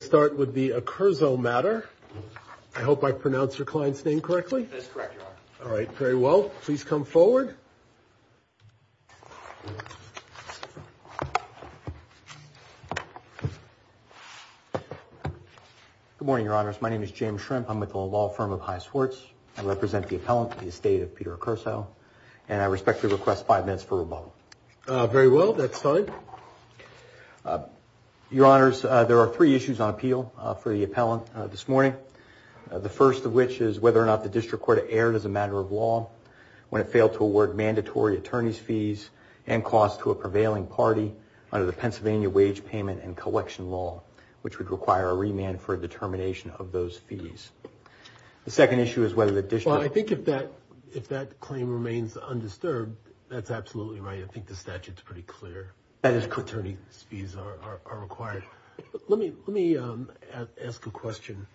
Let's start with the Accurso matter. I hope I pronounced your client's name correctly. That's correct, Your Honor. All right. Very well. Please come forward. Good morning, Your Honors. My name is James Shrimp. I'm with the law firm of High Swartz. I represent the appellant, the estate of Peter Accurso, and I respectfully request five minutes for rebuttal. Very well. That's fine. Your Honors, there are three issues on appeal for the appellant this morning. The first of which is whether or not the district court erred as a matter of law when it failed to award mandatory attorney's fees and costs to a prevailing party under the Pennsylvania Wage Payment and Collection Law, which would require a remand for a determination of those fees. The second issue is whether the district... Well, I think if that claim remains undisturbed, that's absolutely right. I think the statute's pretty clear that attorney's fees are required. Let me ask a question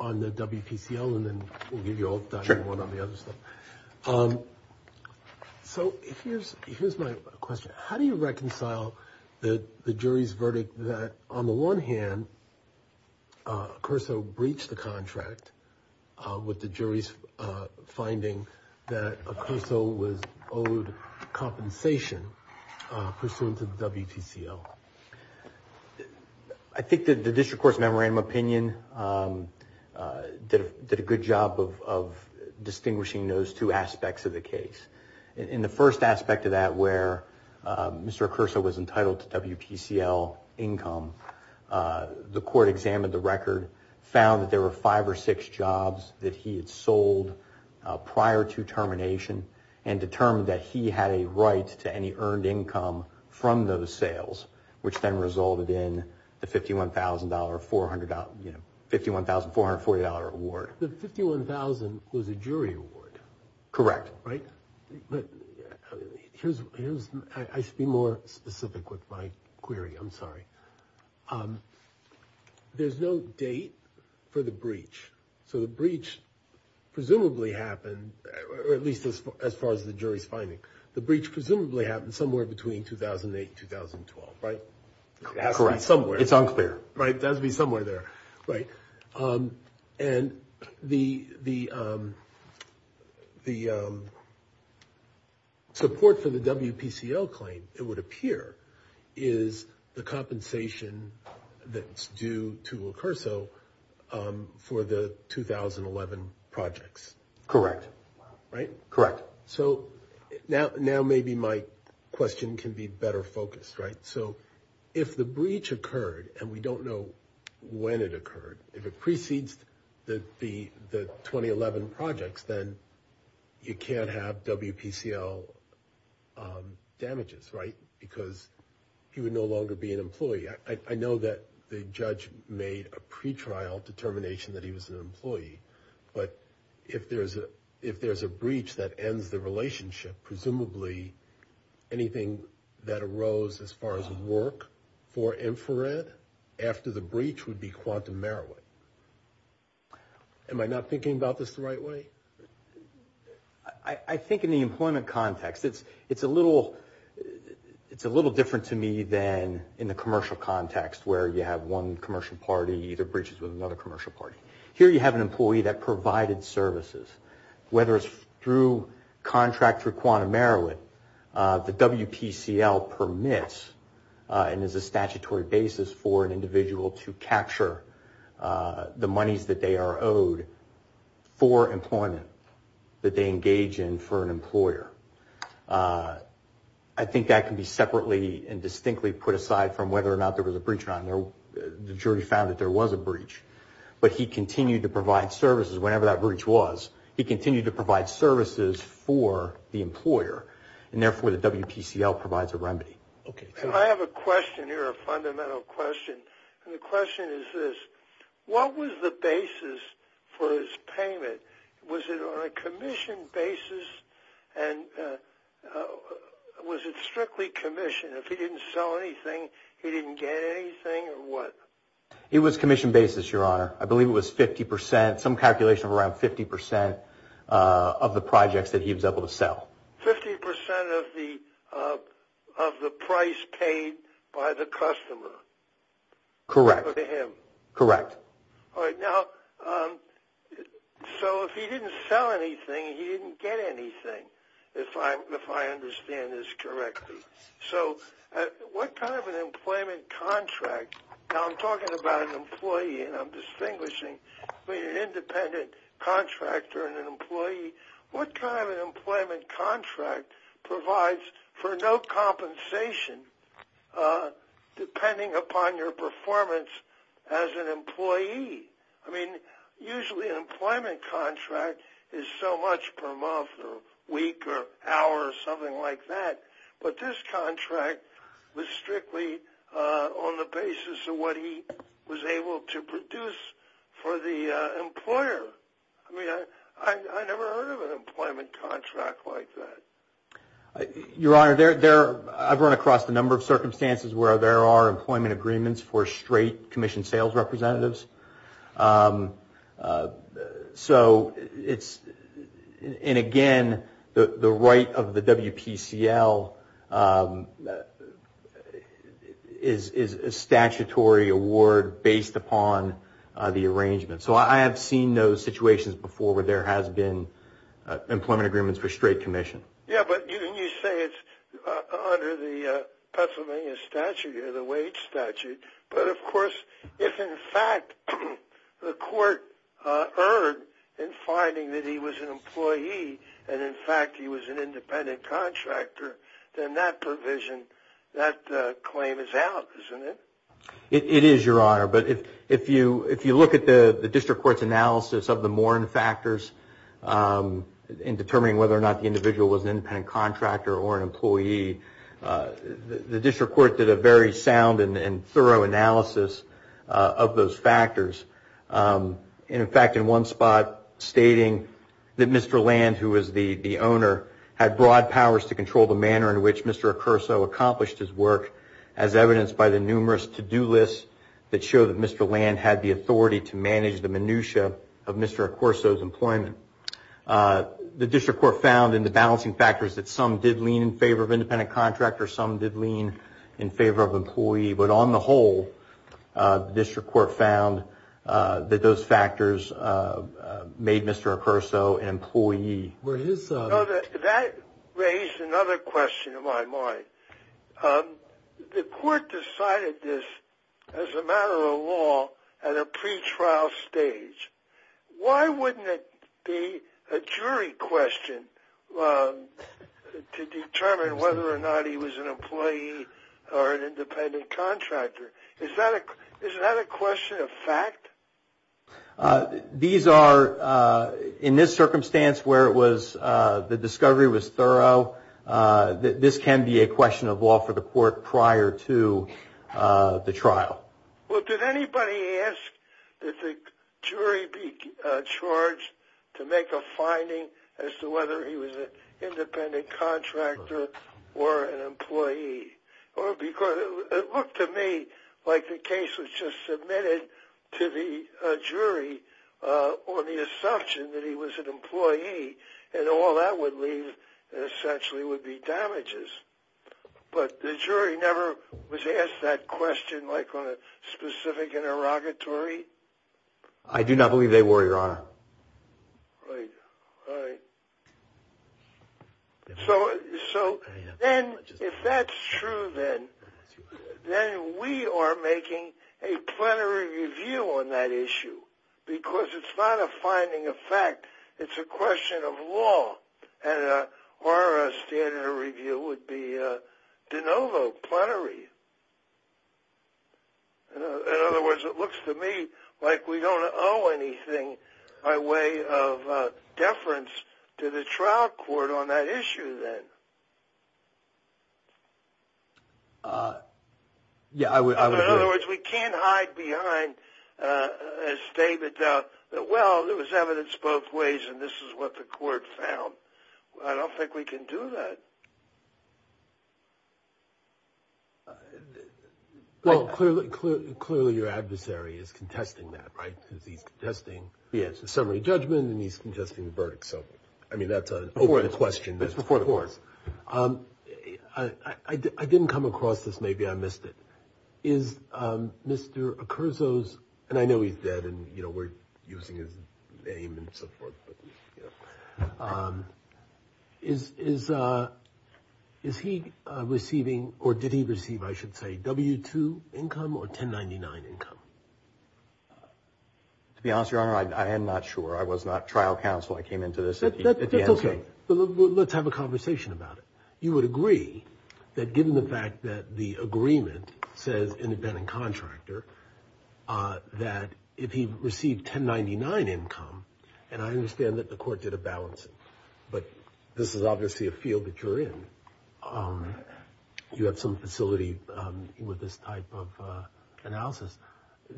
on the WPCL, and then we'll give you one on the other stuff. So here's my question. How do you reconcile the jury's verdict that, on the one hand, Accurso breached the contract with the jury's finding that Accurso was owed compensation pursuant to the WPCL? I think the district court's memorandum of opinion did a good job of distinguishing those two aspects of the case. In the first aspect of that, where Mr. Accurso was entitled to WPCL income, the court examined the record, found that there were five or six jobs that he had sold prior to termination, and determined that he had a right to any earned income from those sales, which then resulted in the $51,440 award. The $51,000 was a jury award. Correct. I should be more specific with my query. I'm sorry. There's no date for the breach. So the breach presumably happened, or at least as far as the jury's finding, the breach presumably happened somewhere between 2008 and 2012, right? It has to be somewhere. It's unclear. It has to be somewhere there. Right. And the support for the WPCL claim, it would appear, is the compensation that's due to Accurso for the 2011 projects. Correct. Right? Correct. So now maybe my question can be better focused, right? So if the breach occurred, and we don't know when it occurred, if it precedes the 2011 projects, then you can't have WPCL damages, right, because he would no longer be an employee. I know that the judge made a pretrial determination that he was an employee, but if there's a breach that ends the relationship, presumably anything that arose as far as work for Infrared after the breach would be quantum merit. Am I not thinking about this the right way? I think in the employment context, it's a little different to me than in the commercial context, where you have one commercial party, either breaches with another commercial party. Here you have an employee that provided services. Whether it's through contract for quantum merit, the WPCL permits and is a statutory basis for an individual to capture the monies that they are owed for employment that they engage in for an employer. I think that can be separately and distinctly put aside from whether or not there was a breach or not. The jury found that there was a breach, but he continued to provide services. Whenever that breach was, he continued to provide services for the employer, and therefore the WPCL provides a remedy. I have a question here, a fundamental question, and the question is this. What was the basis for his payment? Was it on a commission basis, and was it strictly commission? If he didn't sell anything, he didn't get anything, or what? It was commission basis, Your Honor. I believe it was 50%, some calculation of around 50% of the projects that he was able to sell. 50% of the price paid by the customer? Correct. To him? Correct. All right. Now, so if he didn't sell anything, he didn't get anything, if I understand this correctly. So what kind of an employment contract? Now, I'm talking about an employee, and I'm distinguishing between an independent contractor and an employee. What kind of an employment contract provides for no compensation depending upon your performance as an employee? I mean, usually an employment contract is so much per month or week or hour or something like that, but this contract was strictly on the basis of what he was able to produce for the employer. I mean, I never heard of an employment contract like that. Your Honor, I've run across a number of circumstances where there are employment agreements for straight commission sales representatives. So it's, and again, the right of the WPCL is a statutory award based upon the arrangement. So I have seen those situations before where there has been employment agreements for straight commission. Yeah, but you say it's under the Pennsylvania statute or the wage statute, but of course if in fact the court erred in finding that he was an employee and in fact he was an independent contractor, then that provision, that claim is out, isn't it? It is, Your Honor. But if you look at the district court's analysis of the Morin factors in determining whether or not the individual was an independent contractor or an employee, the district court did a very sound and thorough analysis of those factors. In fact, in one spot stating that Mr. Land, who was the owner, had broad powers to control the manner in which Mr. Accurso accomplished his work as evidenced by the numerous to-do lists that show that Mr. Land had the authority to manage the minutia of Mr. Accurso's employment. The district court found in the balancing factors that some did lean in favor of independent contractor, some did lean in favor of employee, but on the whole, the district court found that those factors made Mr. Accurso an employee. That raised another question in my mind. The court decided this as a matter of law at a pretrial stage. Why wouldn't it be a jury question to determine whether or not he was an employee or an independent contractor? Is that a question of fact? These are, in this circumstance where the discovery was thorough, this can be a question of law for the court prior to the trial. Well, did anybody ask that the jury be charged to make a finding as to whether he was an independent contractor or an employee? It looked to me like the case was just submitted to the jury on the assumption that he was an employee and all that would leave essentially would be damages. But the jury never was asked that question like on a specific interrogatory? I do not believe they were, Your Honor. All right. So then if that's true, then we are making a plenary review on that issue because it's not a finding of fact. It's a question of law, and our standard of review would be de novo plenary. In other words, it looks to me like we don't owe anything by way of deference to the trial court on that issue then. Yeah, I would agree. In other words, we can't hide behind a statement that, well, there was evidence both ways and this is what the court found. I don't think we can do that. Well, clearly your adversary is contesting that, right, because he's contesting the summary judgment and he's contesting the verdict. So, I mean, that's an open question. That's before the court. I didn't come across this. Maybe I missed it. Is Mr. Ocurzo's, and I know he's dead and, you know, we're using his name and so forth, but, you know, is he receiving, or did he receive, I should say, W-2 income or 1099 income? To be honest, Your Honor, I am not sure. I was not trial counsel. I came into this at the end. That's okay. Let's have a conversation about it. You would agree that given the fact that the agreement says independent contractor, that if he received 1099 income, and I understand that the court did a balance, but this is obviously a field that you're in. You have some facility with this type of analysis,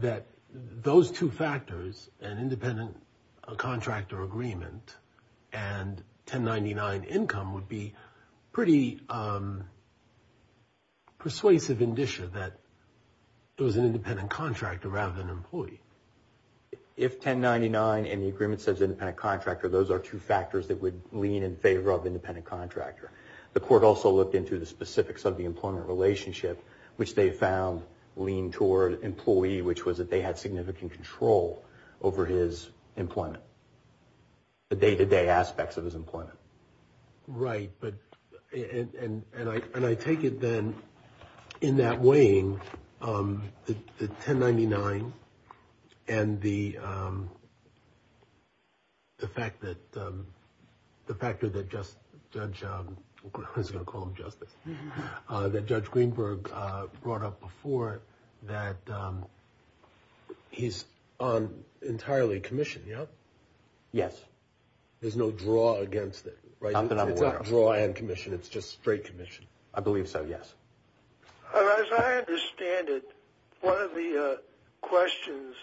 that those two factors, an independent contractor agreement and 1099 income, would be pretty persuasive indicia that it was an independent contractor rather than an employee. If 1099 and the agreement says independent contractor, those are two factors that would lean in favor of independent contractor. The court also looked into the specifics of the employment relationship, which they found leaned toward employee, which was that they had significant control over his employment, the day-to-day aspects of his employment. Right. And I take it then in that weighing, the 1099 and the fact that the factor that Judge, I was going to call him Justice, that Judge Greenberg brought up before, that he's on entirely commission, yeah? Yes. There's no draw against it, right? It's a draw and commission. It's just straight commission. I believe so, yes. As I understand it, one of the questions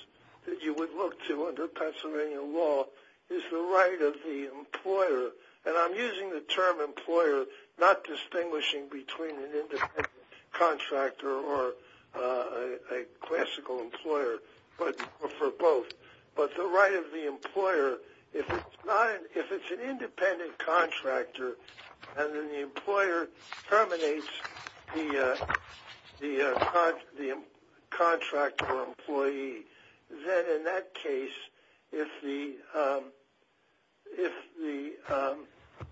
that you would look to under Pennsylvania law is the right of the employer, and I'm using the term employer, not distinguishing between an independent contractor or a classical employer, or for both, but the right of the employer, if it's an independent contractor and then the employer terminates the contractor employee, then in that case, if the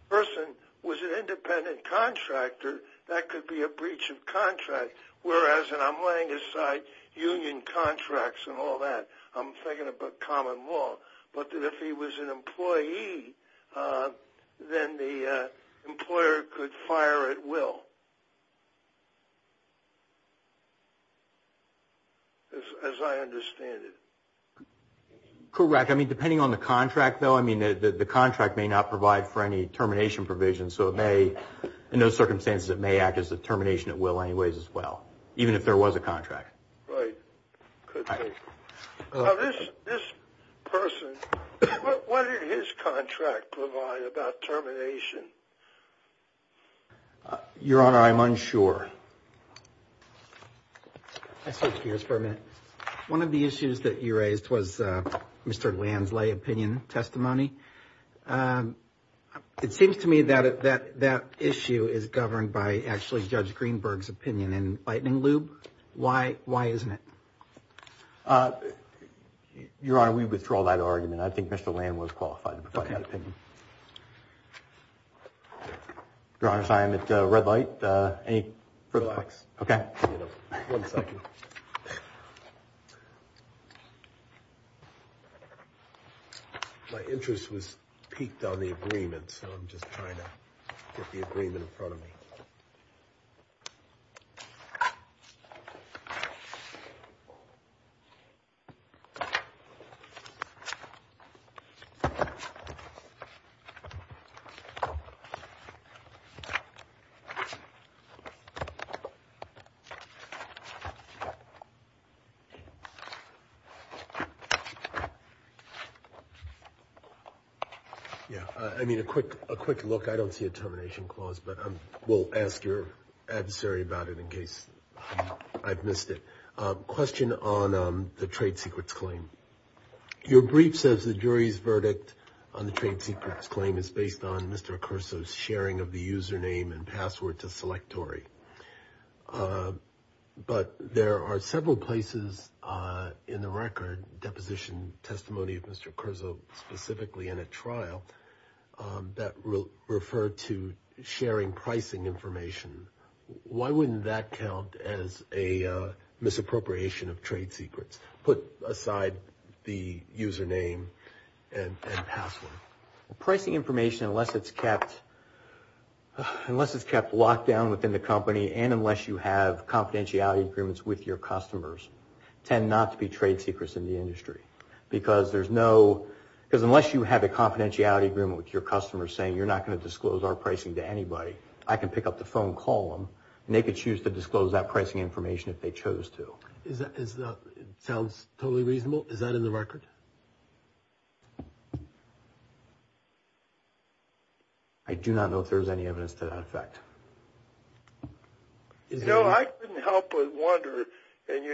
person was an independent contractor, that could be a breach of contract, whereas, and I'm laying aside union contracts and all that, I'm thinking about common law, but that if he was an employee, then the employer could fire at will, as I understand it. Correct. I mean, depending on the contract, though, I mean, the contract may not provide for any termination provision, so in those circumstances, it may act as a termination at will anyways as well, even if there was a contract. Right. Could be. This person, what did his contract provide about termination? Your Honor, I'm unsure. I'll switch gears for a minute. One of the issues that you raised was Mr. Lansley's opinion testimony. It seems to me that that issue is governed by actually Judge Greenberg's opinion in lightning lube. Why isn't it? Your Honor, we withdraw that argument. I think Mr. Lansley was qualified to provide that opinion. Okay. Your Honor, I'm at red light. Any further questions? Relax. Okay. One second. My interest was piqued on the agreement, so I'm just trying to get the agreement in front of me. Yeah, I mean, a quick look. I don't see a termination clause, but we'll ask your adversary about it in case I've missed it. Question on the trade secrets claim. Your brief says the jury's verdict on the trade secrets claim is based on Mr. Acurso's sharing of the username and password to Selectory. But there are several places in the record, deposition testimony of Mr. Acurso specifically in a trial, that refer to sharing pricing information. Why wouldn't that count as a misappropriation of trade secrets? Put aside the username and password. Pricing information, unless it's kept locked down within the company and unless you have confidentiality agreements with your customers, tend not to be trade secrets in the industry. Because unless you have a confidentiality agreement with your customers saying you're not going to disclose our pricing to anybody, I can pick up the phone and call them, and they could choose to disclose that pricing information if they chose to. Sounds totally reasonable. Is that in the record? I do not know if there's any evidence to that effect. No, I couldn't help but wonder, and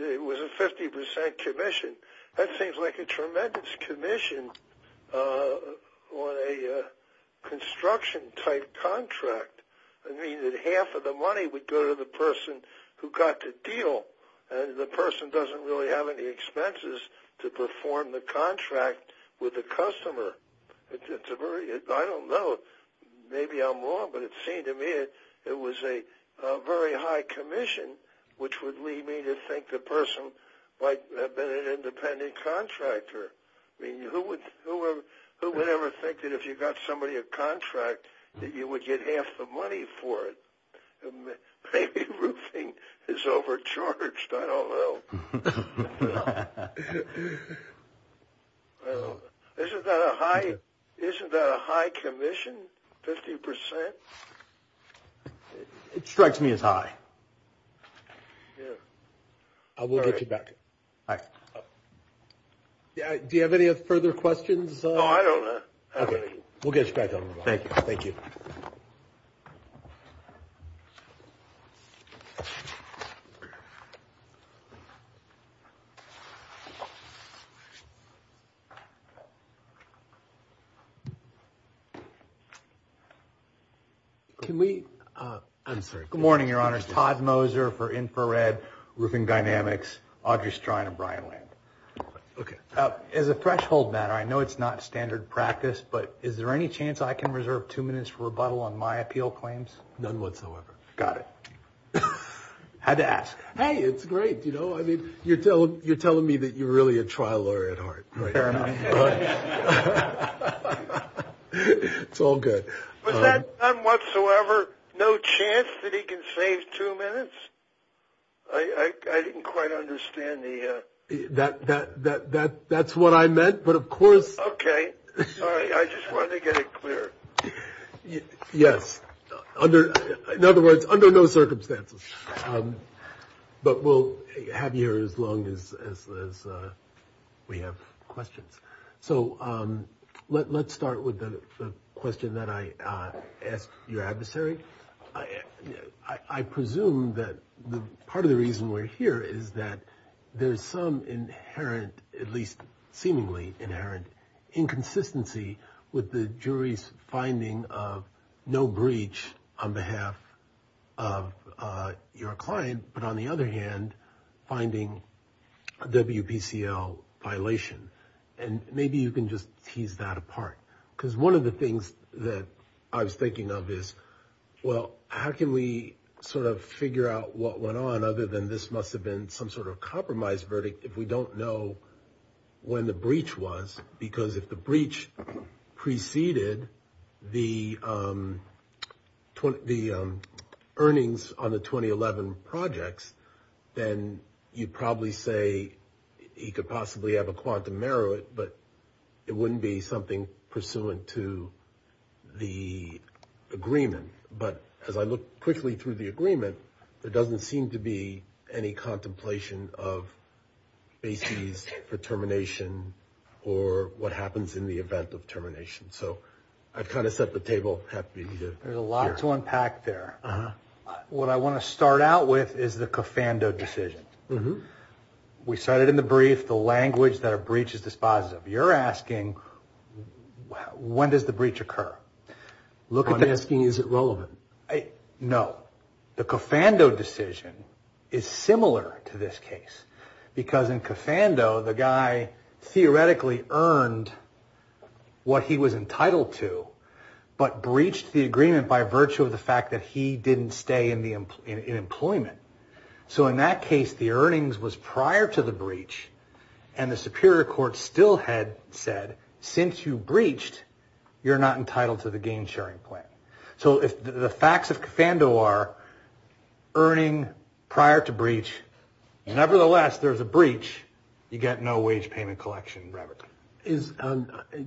it was a 50% commission. That seems like a tremendous commission on a construction-type contract. I mean, half of the money would go to the person who got the deal, and the person doesn't really have any expenses to perform the contract with the customer. I don't know, maybe I'm wrong, but it seemed to me it was a very high commission, which would lead me to think the person might have been an independent contractor. I mean, who would ever think that if you got somebody a contract that you would get half the money for it? Maybe roofing is overcharged, I don't know. Isn't that a high commission, 50%? It strikes me as high. We'll get you back. Hi. Do you have any further questions? No, I don't. Okay, we'll get you back on the line. Thank you. Thank you. Can we – I'm sorry. Good morning, Your Honors. Todd Moser for Infrared Roofing Dynamics. Audrey Strine of Brian Land. Okay. As a threshold matter, I know it's not standard practice, but is there any chance I can reserve two minutes for rebuttal on my appeal claims? None whatsoever. Got it. Had to ask. Hey, it's great, you know. I mean, you're telling me that you're really a trial lawyer at heart. Fair enough. It's all good. Was that none whatsoever, no chance that he can save two minutes? I didn't quite understand the – That's what I meant, but of course – Okay. Sorry, I just wanted to get it clear. Yes. In other words, under no circumstances. But we'll have you here as long as we have questions. So let's start with the question that I asked your adversary. I presume that part of the reason we're here is that there's some inherent, at least seemingly inherent, inconsistency with the jury's finding of no breach on behalf of your client, but on the other hand, finding a WPCL violation. And maybe you can just tease that apart. Because one of the things that I was thinking of is, well, how can we sort of figure out what went on other than this must have been some sort of compromise verdict if we don't know when the breach was? Because if the breach preceded the earnings on the 2011 projects, then you'd probably say he could possibly have a quantum error, but it wouldn't be something pursuant to the agreement. But as I look quickly through the agreement, there doesn't seem to be any contemplation of bases for termination or what happens in the event of termination. So I've kind of set the table. There's a lot to unpack there. What I want to start out with is the Coffando decision. We cited in the brief the language that a breach is dispositive. You're asking, when does the breach occur? I'm asking, is it relevant? No. The Coffando decision is similar to this case. Because in Coffando, the guy theoretically earned what he was entitled to, but breached the agreement by virtue of the fact that he didn't stay in employment. So in that case, the earnings was prior to the breach, and the superior court still had said, since you breached, you're not entitled to the gain-sharing plan. So if the facts of Coffando are earning prior to breach, nevertheless, there's a breach, you get no wage payment collection, Robert.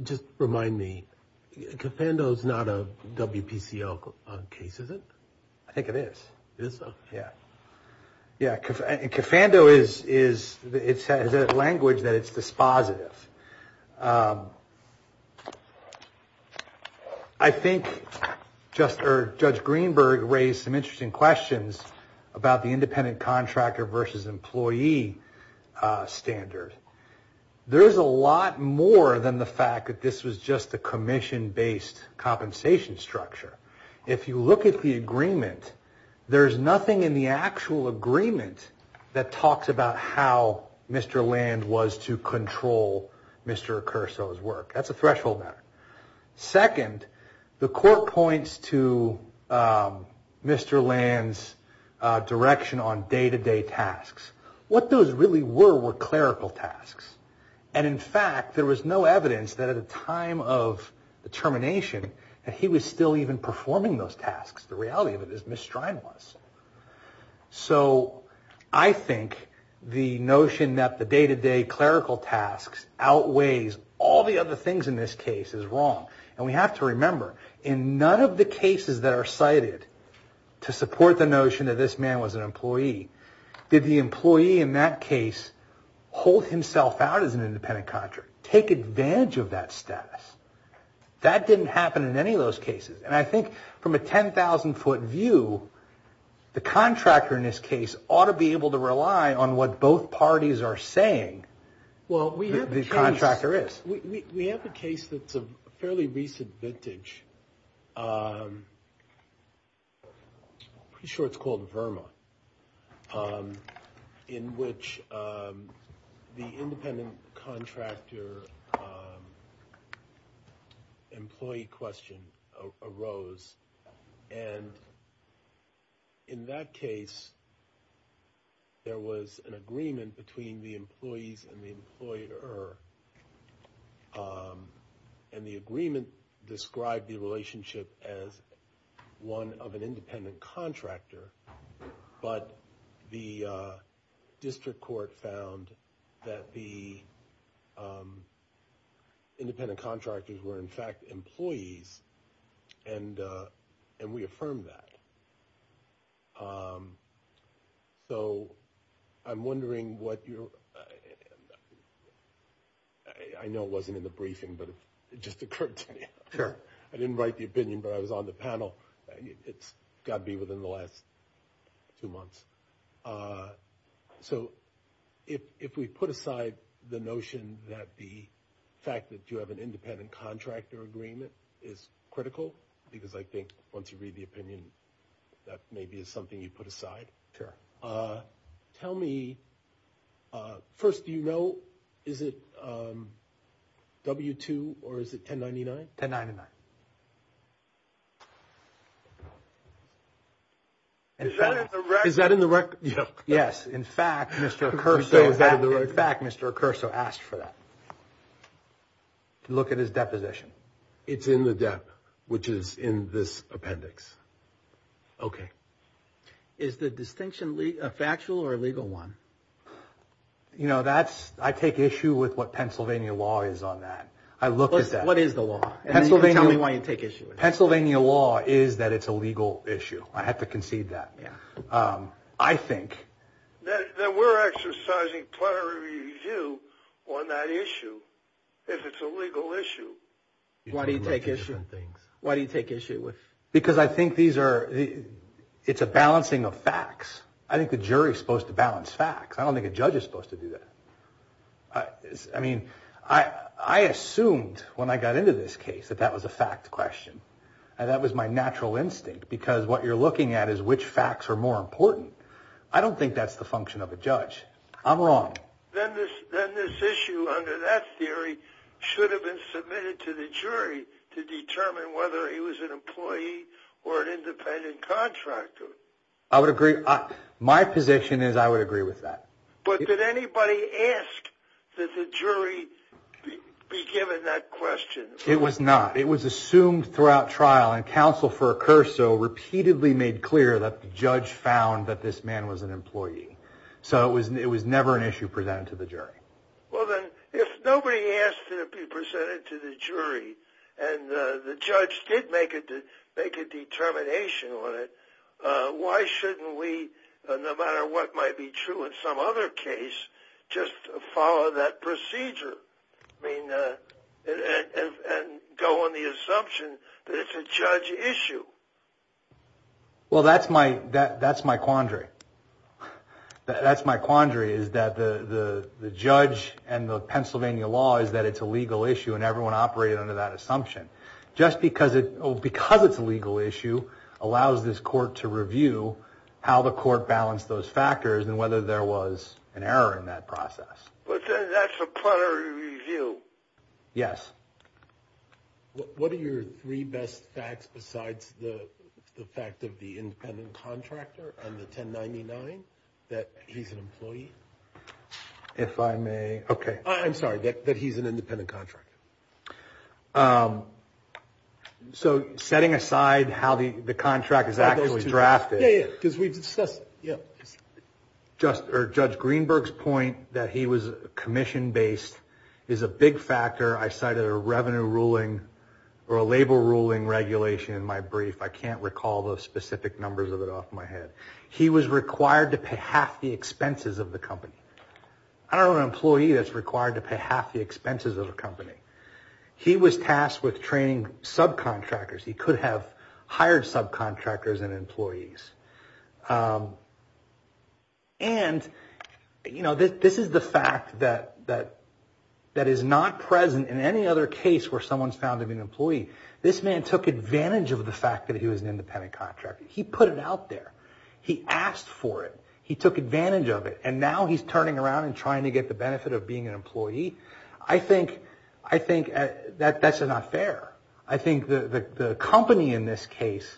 Just remind me, Coffando is not a WPCO case, is it? I think it is. It is? Yeah. Yeah, Coffando is a language that it's dispositive. I think Judge Greenberg raised some interesting questions about the independent contractor versus employee standard. There's a lot more than the fact that this was just a commission-based compensation structure. If you look at the agreement, there's nothing in the actual agreement that talks about how Mr. Land was to control Mr. Accurso's work. That's a threshold matter. Second, the court points to Mr. Land's direction on day-to-day tasks. What those really were were clerical tasks. And, in fact, there was no evidence that at a time of the termination that he was still even performing those tasks. The reality of it is Ms. Strine was. So I think the notion that the day-to-day clerical tasks outweighs all the other things in this case is wrong. And we have to remember, in none of the cases that are cited to support the notion that this man was an employee, did the employee in that case hold himself out as an independent contractor, take advantage of that status? That didn't happen in any of those cases. And I think from a 10,000-foot view, the contractor in this case ought to be able to rely on what both parties are saying the contractor is. Well, we have a case that's a fairly recent vintage. I'm pretty sure it's called Verma, in which the independent contractor employee question arose. And, in that case, there was an agreement between the employees and the employer, and the agreement described the relationship as one of an independent contractor, but the district court found that the independent contractors were, in fact, employees, and we affirmed that. So I'm wondering what your – I know it wasn't in the briefing, but it just occurred to me. Sure. I didn't write the opinion, but I was on the panel. It's got to be within the last two months. So if we put aside the notion that the fact that you have an independent contractor agreement is critical, because I think once you read the opinion, that maybe is something you put aside. Sure. Tell me – first, do you know, is it W-2 or is it 1099? 1099. Is that in the record? Is that in the record? Yes. In fact, Mr. Accurso asked for that. Look at his deposition. It's in the DEP, which is in this appendix. Okay. Is the distinction a factual or a legal one? You know, I take issue with what Pennsylvania law is on that. I look at that. What is the law? And then you can tell me why you take issue with it. Pennsylvania law is that it's a legal issue. I have to concede that. Yeah. I think that we're exercising plenary review on that issue if it's a legal issue. Why do you take issue with things? Why do you take issue with – Because I think these are – it's a balancing of facts. I think the jury is supposed to balance facts. I don't think a judge is supposed to do that. I mean, I assumed when I got into this case that that was a fact question, and that was my natural instinct, because what you're looking at is which facts are more important. I don't think that's the function of a judge. I'm wrong. Then this issue under that theory should have been submitted to the jury to determine whether he was an employee or an independent contractor. I would agree. My position is I would agree with that. But did anybody ask that the jury be given that question? It was not. It was assumed throughout trial, and counsel for Accurso repeatedly made clear that the judge found that this man was an employee. So it was never an issue presented to the jury. Well, then, if nobody asked it to be presented to the jury and the judge did make a determination on it, why shouldn't we, no matter what might be true in some other case, just follow that procedure and go on the assumption that it's a judge issue? Well, that's my quandary. That's my quandary, is that the judge and the Pennsylvania law is that it's a legal issue, and everyone operated under that assumption. Just because it's a legal issue allows this court to review how the court balanced those factors and whether there was an error in that process. But that's a plenary review. Yes. What are your three best facts besides the fact of the independent contractor and the 1099 that he's an employee? If I may. Okay. I'm sorry, that he's an independent contractor. So setting aside how the contract is actually drafted, Judge Greenberg's point that he was commission-based is a big factor. I cited a revenue ruling or a label ruling regulation in my brief. I can't recall the specific numbers of it off my head. He was required to pay half the expenses of the company. I don't know of an employee that's required to pay half the expenses of a company. He was tasked with training subcontractors. He could have hired subcontractors and employees. And this is the fact that is not present in any other case where someone's found to be an employee. This man took advantage of the fact that he was an independent contractor. He put it out there. He asked for it. He took advantage of it. And now he's turning around and trying to get the benefit of being an employee. I think that's not fair. I think the company in this case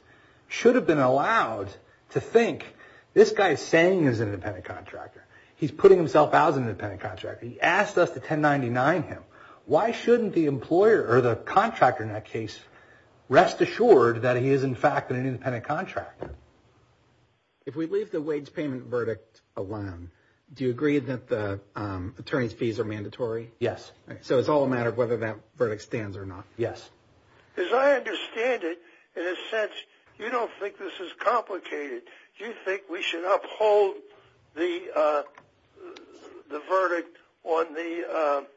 should have been allowed to think, this guy is saying he's an independent contractor. He's putting himself out as an independent contractor. He asked us to 1099 him. Why shouldn't the employer or the contractor in that case rest assured that he is, in fact, an independent contractor? If we leave the wage payment verdict alone, do you agree that the attorney's fees are mandatory? Yes. So it's all a matter of whether that verdict stands or not. Yes. As I understand it, in a sense, you don't think this is complicated. You think we should uphold the verdict on the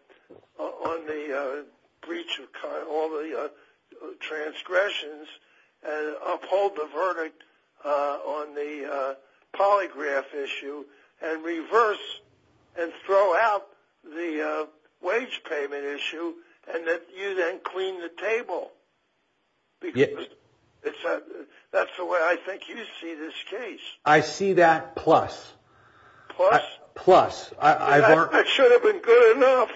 breach of all the transgressions and uphold the verdict on the polygraph issue and reverse and throw out the wage payment issue and that you then clean the table? Yes. That's the way I think you see this case. I see that plus. Plus? Plus. I should have been good enough.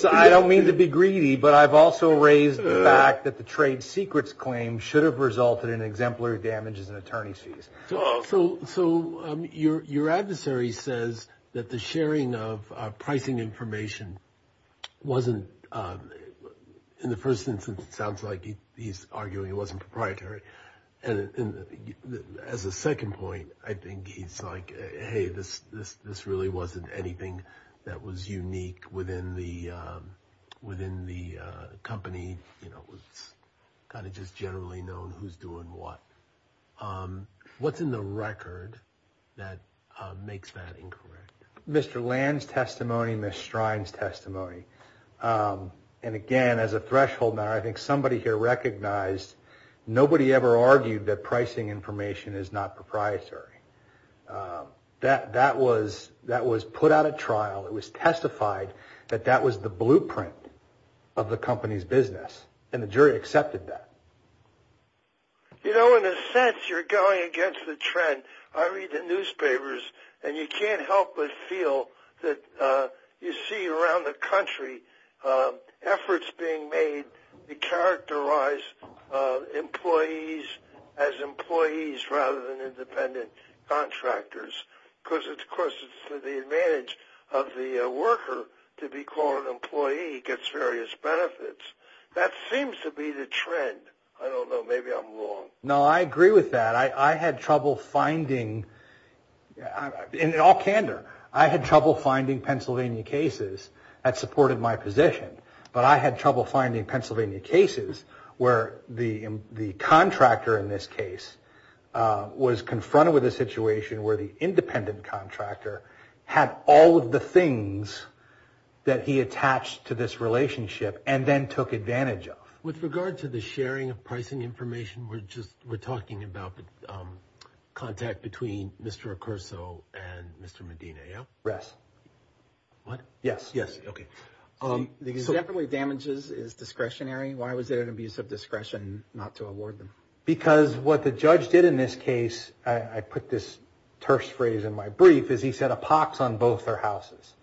So I don't mean to be greedy, but I've also raised the fact that the trade secrets claim should have resulted in exemplary damages and attorney's fees. So your adversary says that the sharing of pricing information wasn't, in the first instance, it sounds like he's arguing it wasn't proprietary. And as a second point, I think he's like, hey, this really wasn't anything that was unique within the company. It was kind of just generally known who's doing what. What's in the record that makes that incorrect? Mr. Land's testimony, Ms. Strine's testimony. And, again, as a threshold matter, I think somebody here recognized nobody ever argued that pricing information is not proprietary. That was put out at trial. It was testified that that was the blueprint of the company's business, and the jury accepted that. You know, in a sense, you're going against the trend. I read the newspapers, and you can't help but feel that you see around the country efforts being made to characterize employees as employees rather than independent contractors, because, of course, it's to the advantage of the worker to be called an employee. He gets various benefits. That seems to be the trend. I don't know. Maybe I'm wrong. No, I agree with that. I had trouble finding, in all candor, I had trouble finding Pennsylvania cases that supported my position, but I had trouble finding Pennsylvania cases where the contractor in this case was confronted with a situation where the independent contractor had all of the things that he attached to this relationship and then took advantage of. With regard to the sharing of pricing information, we're talking about the contact between Mr. Recurso and Mr. Medina, yeah? Yes. What? Yes. Yes. Okay. Definitely damages is discretionary. Why was there an abuse of discretion not to award them? Because what the judge did in this case, I put this terse phrase in my brief, is he set a pox on both their houses.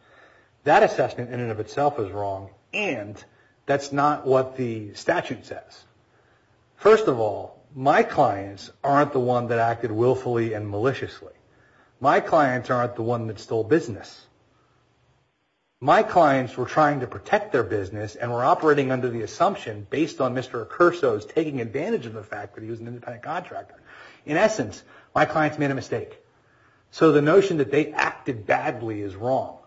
That assessment in and of itself is wrong, and that's not what the statute says. First of all, my clients aren't the one that acted willfully and maliciously. My clients aren't the one that stole business. My clients were trying to protect their business and were operating under the assumption based on Mr. Recurso's taking advantage of the fact that he was an independent contractor. In essence, my clients made a mistake. So the notion that they acted badly is wrong.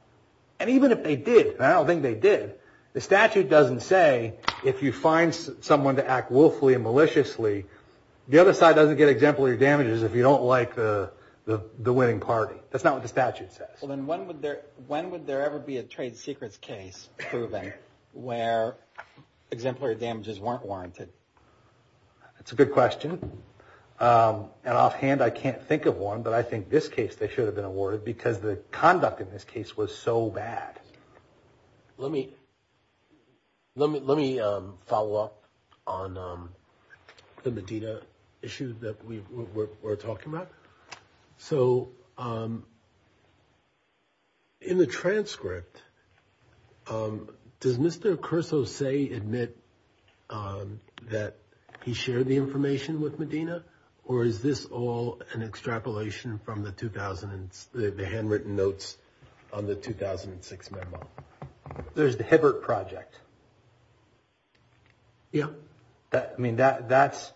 And even if they did, and I don't think they did, the statute doesn't say if you find someone to act willfully and maliciously, the other side doesn't get exemplary damages if you don't like the winning party. That's not what the statute says. Well, then when would there ever be a trade secrets case proven where exemplary damages weren't warranted? That's a good question. And offhand, I can't think of one. But I think this case they should have been awarded because the conduct in this case was so bad. Let me follow up on the Medina issue that we're talking about. So in the transcript, does Mr. Recurso say, admit, that he shared the information with Medina? Or is this all an extrapolation from the handwritten notes on the 2006 memo? There's the Hibbert Project. Yeah. I mean, that's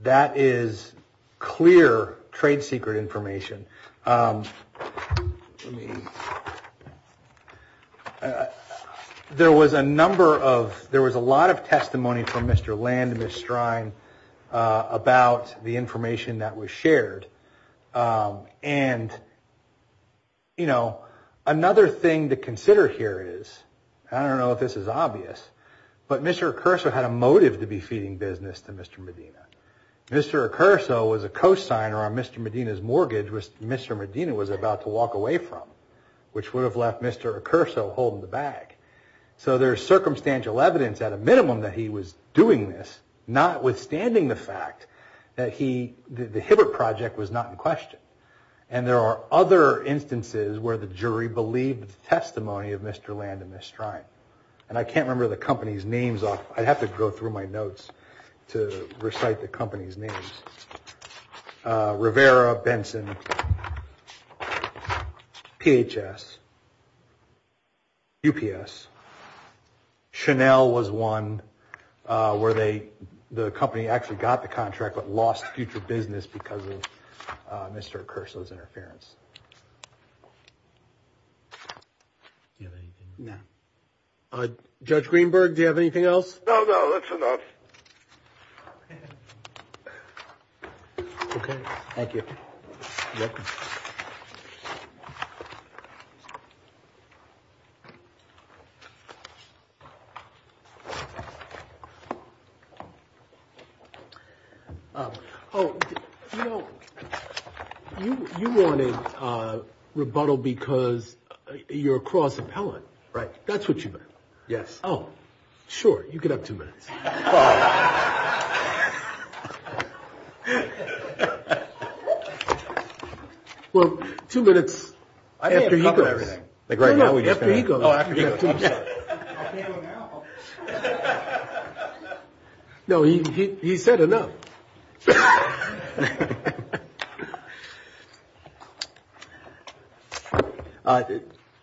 that is clear trade secret information. There was a number of there was a lot of testimony from Mr. Land, Mr. Strine about the information that was shared. And, you know, another thing to consider here is I don't know if this is obvious, but Mr. Recurso had a motive to be feeding business to Mr. Medina. Mr. Recurso was a cosigner on Mr. Medina's mortgage, which Mr. Medina was about to walk away from, which would have left Mr. Recurso holding the bag. So there's circumstantial evidence at a minimum that he was doing this, notwithstanding the fact that he the Hibbert Project was not in question. And there are other instances where the jury believed testimony of Mr. Land and Mr. Strine. And I can't remember the company's names. I'd have to go through my notes to recite the company's names. Rivera, Benson, PHS, UPS. Chanel was one where they the company actually got the contract but lost future business because of Mr. Recurso's interference. Now, Judge Greenberg, do you have anything else? No, no, that's enough. Okay. Thank you. Oh, you know, you wanted rebuttal because you're a cross appellant. Right. That's what you meant. Yes. Oh, sure. You can have two minutes. Well, two minutes after he goes. No, no, after he goes. No, he said enough. Okay.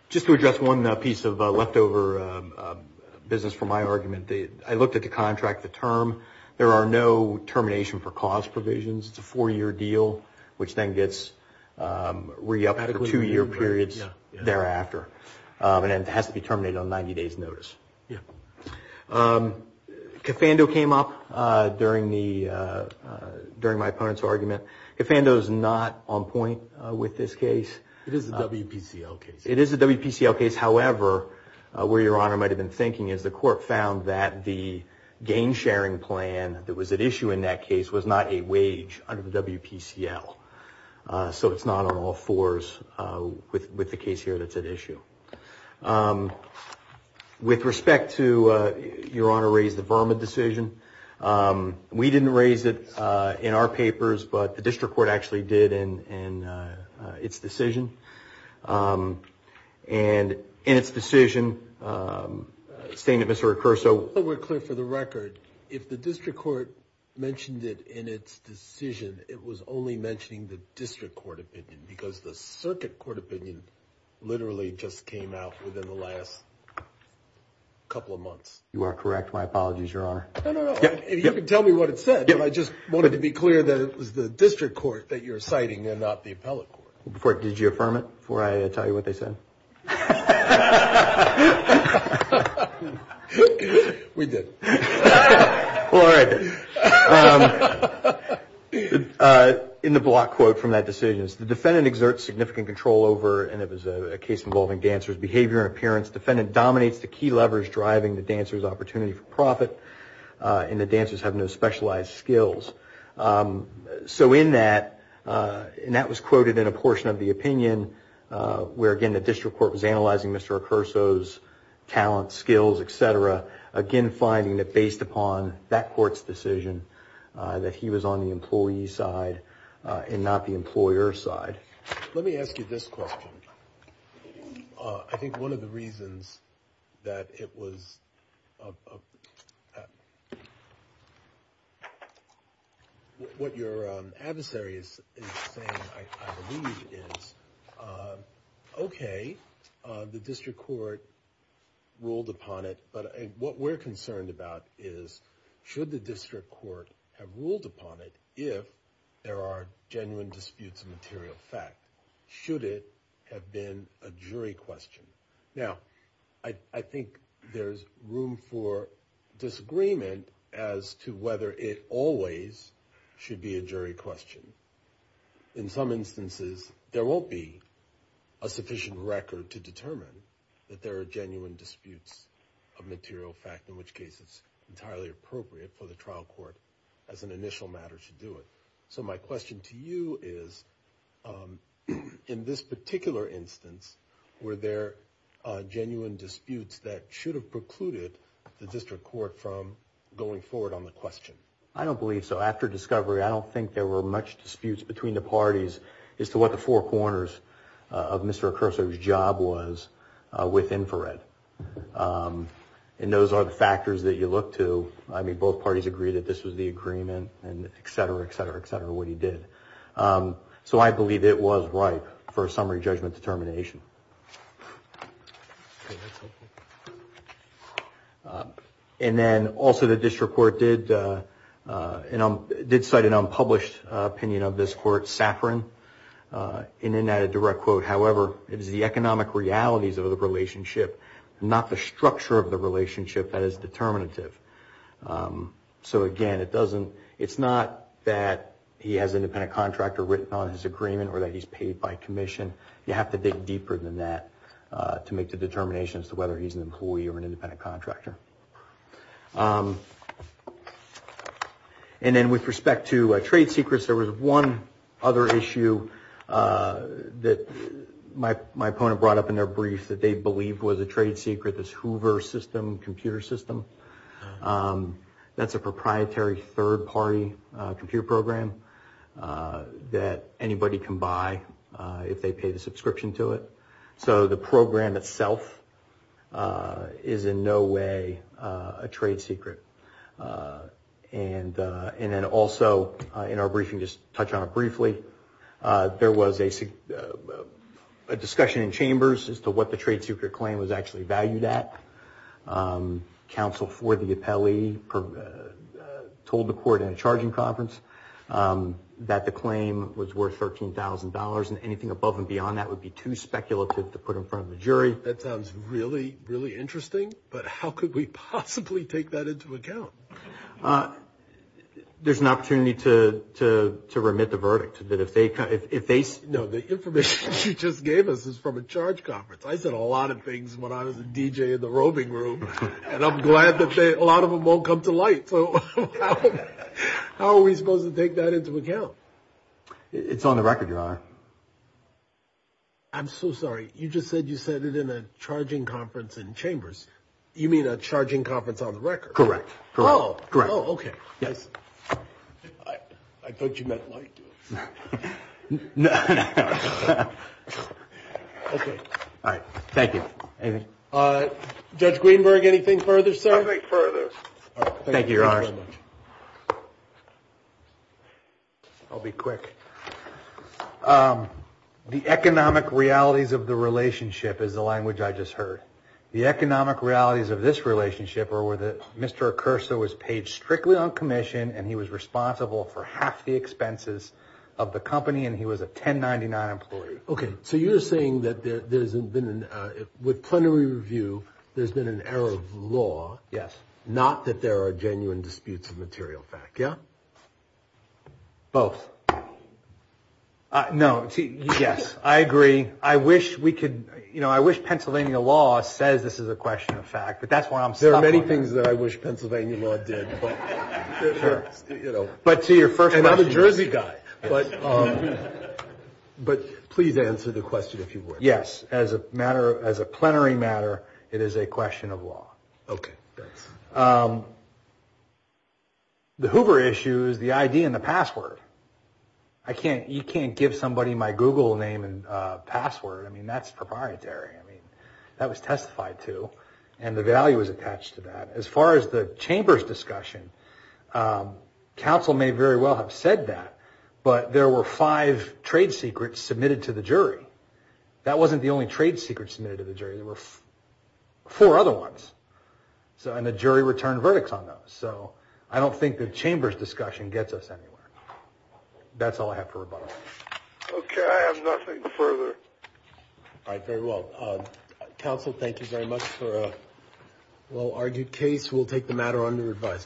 Just to address one piece of leftover business from my argument, I looked at the contract, the term. There are no termination for cause provisions. It's a four-year deal, which then gets re-upped for two-year periods thereafter. Cafando came up during my opponent's argument. Cafando is not on point with this case. It is a WPCL case. It is a WPCL case. However, where Your Honor might have been thinking is the court found that the gain-sharing plan that was at issue in that case was not a wage under the WPCL. So it's not on all fours with the case here that's at issue. With respect to Your Honor raised the Verma decision, we didn't raise it in our papers, but the district court actually did in its decision. And in its decision, staying at Mr. Recurso. We're clear for the record. If the district court mentioned it in its decision, it was only mentioning the district court opinion because the circuit court opinion literally just came out within the last couple of months. You are correct. My apologies, Your Honor. No, no, no. You can tell me what it said. I just wanted to be clear that it was the district court that you're citing and not the appellate court. Did you affirm it before I tell you what they said? We did. All right. In the block quote from that decision, the defendant exerts significant control over, and it was a case involving dancers' behavior and appearance. Defendant dominates the key levers driving the dancer's opportunity for profit, and the dancers have no specialized skills. So in that, and that was quoted in a portion of the opinion where, again, the district court was analyzing Mr. Recurso's talent, skills, et cetera, again finding that based upon that court's decision that he was on the employee's side and not the employer's side. Let me ask you this question. I think one of the reasons that it was, what your adversary is saying, I believe, is, okay, the district court ruled upon it, but what we're concerned about is, should the district court have ruled upon it if there are genuine disputes of material fact? Should it have been a jury question? Now, I think there's room for disagreement as to whether it always should be a jury question. In some instances, there won't be a sufficient record to determine that there are genuine disputes of material fact, in which case it's entirely appropriate for the trial court, as an initial matter, to do it. So my question to you is, in this particular instance, were there genuine disputes that should have precluded the district court from going forward on the question? I don't believe so. After discovery, I don't think there were much disputes between the parties as to what the four corners of Mr. Accurso's job was with infrared. And those are the factors that you look to. I mean, both parties agree that this was the agreement and et cetera, et cetera, et cetera, what he did. So I believe it was ripe for a summary judgment determination. Okay, that's helpful. And then also the district court did cite an unpublished opinion of this court, Safran, in an added direct quote. However, it is the economic realities of the relationship, not the structure of the relationship, that is determinative. So again, it's not that he has an independent contractor written on his agreement or that he's paid by commission. You have to dig deeper than that to make the determination as to whether he's an employee or an independent contractor. And then with respect to trade secrets, there was one other issue that my opponent brought up in their brief that they believed was a trade secret, this Hoover system, computer system. That's a proprietary third party computer program that anybody can buy if they pay the subscription to it. So the program itself is in no way a trade secret. And then also in our briefing, just to touch on it briefly, there was a discussion in chambers as to what the trade secret claim was actually valued at. Counsel for the appellee told the court in a charging conference that the claim was worth $13,000 and anything above and beyond that would be too speculative to put in front of the jury. That sounds really, really interesting, but how could we possibly take that into account? There's an opportunity to remit the verdict. No, the information you just gave us is from a charge conference. I said a lot of things when I was a DJ in the roving room, and I'm glad that a lot of them won't come to light. So how are we supposed to take that into account? It's on the record, your honor. I'm so sorry. You just said you said it in a charging conference in chambers. You mean a charging conference on the record. Correct. Oh, great. Oh, OK. Yes. I thought you meant like. No. OK. All right. Thank you. Judge Greenberg, anything further, sir? Nothing further. Thank you, your honor. I'll be quick. The economic realities of the relationship is the language I just heard. The economic realities of this relationship are where the Mr. Curser was paid strictly on commission and he was responsible for half the expenses of the company and he was a ten ninety nine employee. OK. So you're saying that there's been with plenary review. There's been an error of law. Yes. Not that there are genuine disputes of material fact. Yeah. Both. No. Yes, I agree. I wish we could. You know, I wish Pennsylvania law says this is a question of fact. But that's why I'm so many things that I wish Pennsylvania law did. But to your first and other Jersey guy. But please answer the question if you were. Yes. As a matter, as a plenary matter, it is a question of law. OK. The Hoover issue is the idea and the password. I can't you can't give somebody my Google name and password. I mean, that's proprietary. That was testified to. And the value is attached to that. As far as the chamber's discussion, counsel may very well have said that. But there were five trade secrets submitted to the jury. That wasn't the only trade secret submitted to the jury. There were four other ones. So and the jury returned verdicts on those. So I don't think the chamber's discussion gets us anywhere. That's all I have for about. OK. I have nothing further. All right. Very well. Counsel, thank you very much for a well-argued case. We'll take the matter under revise.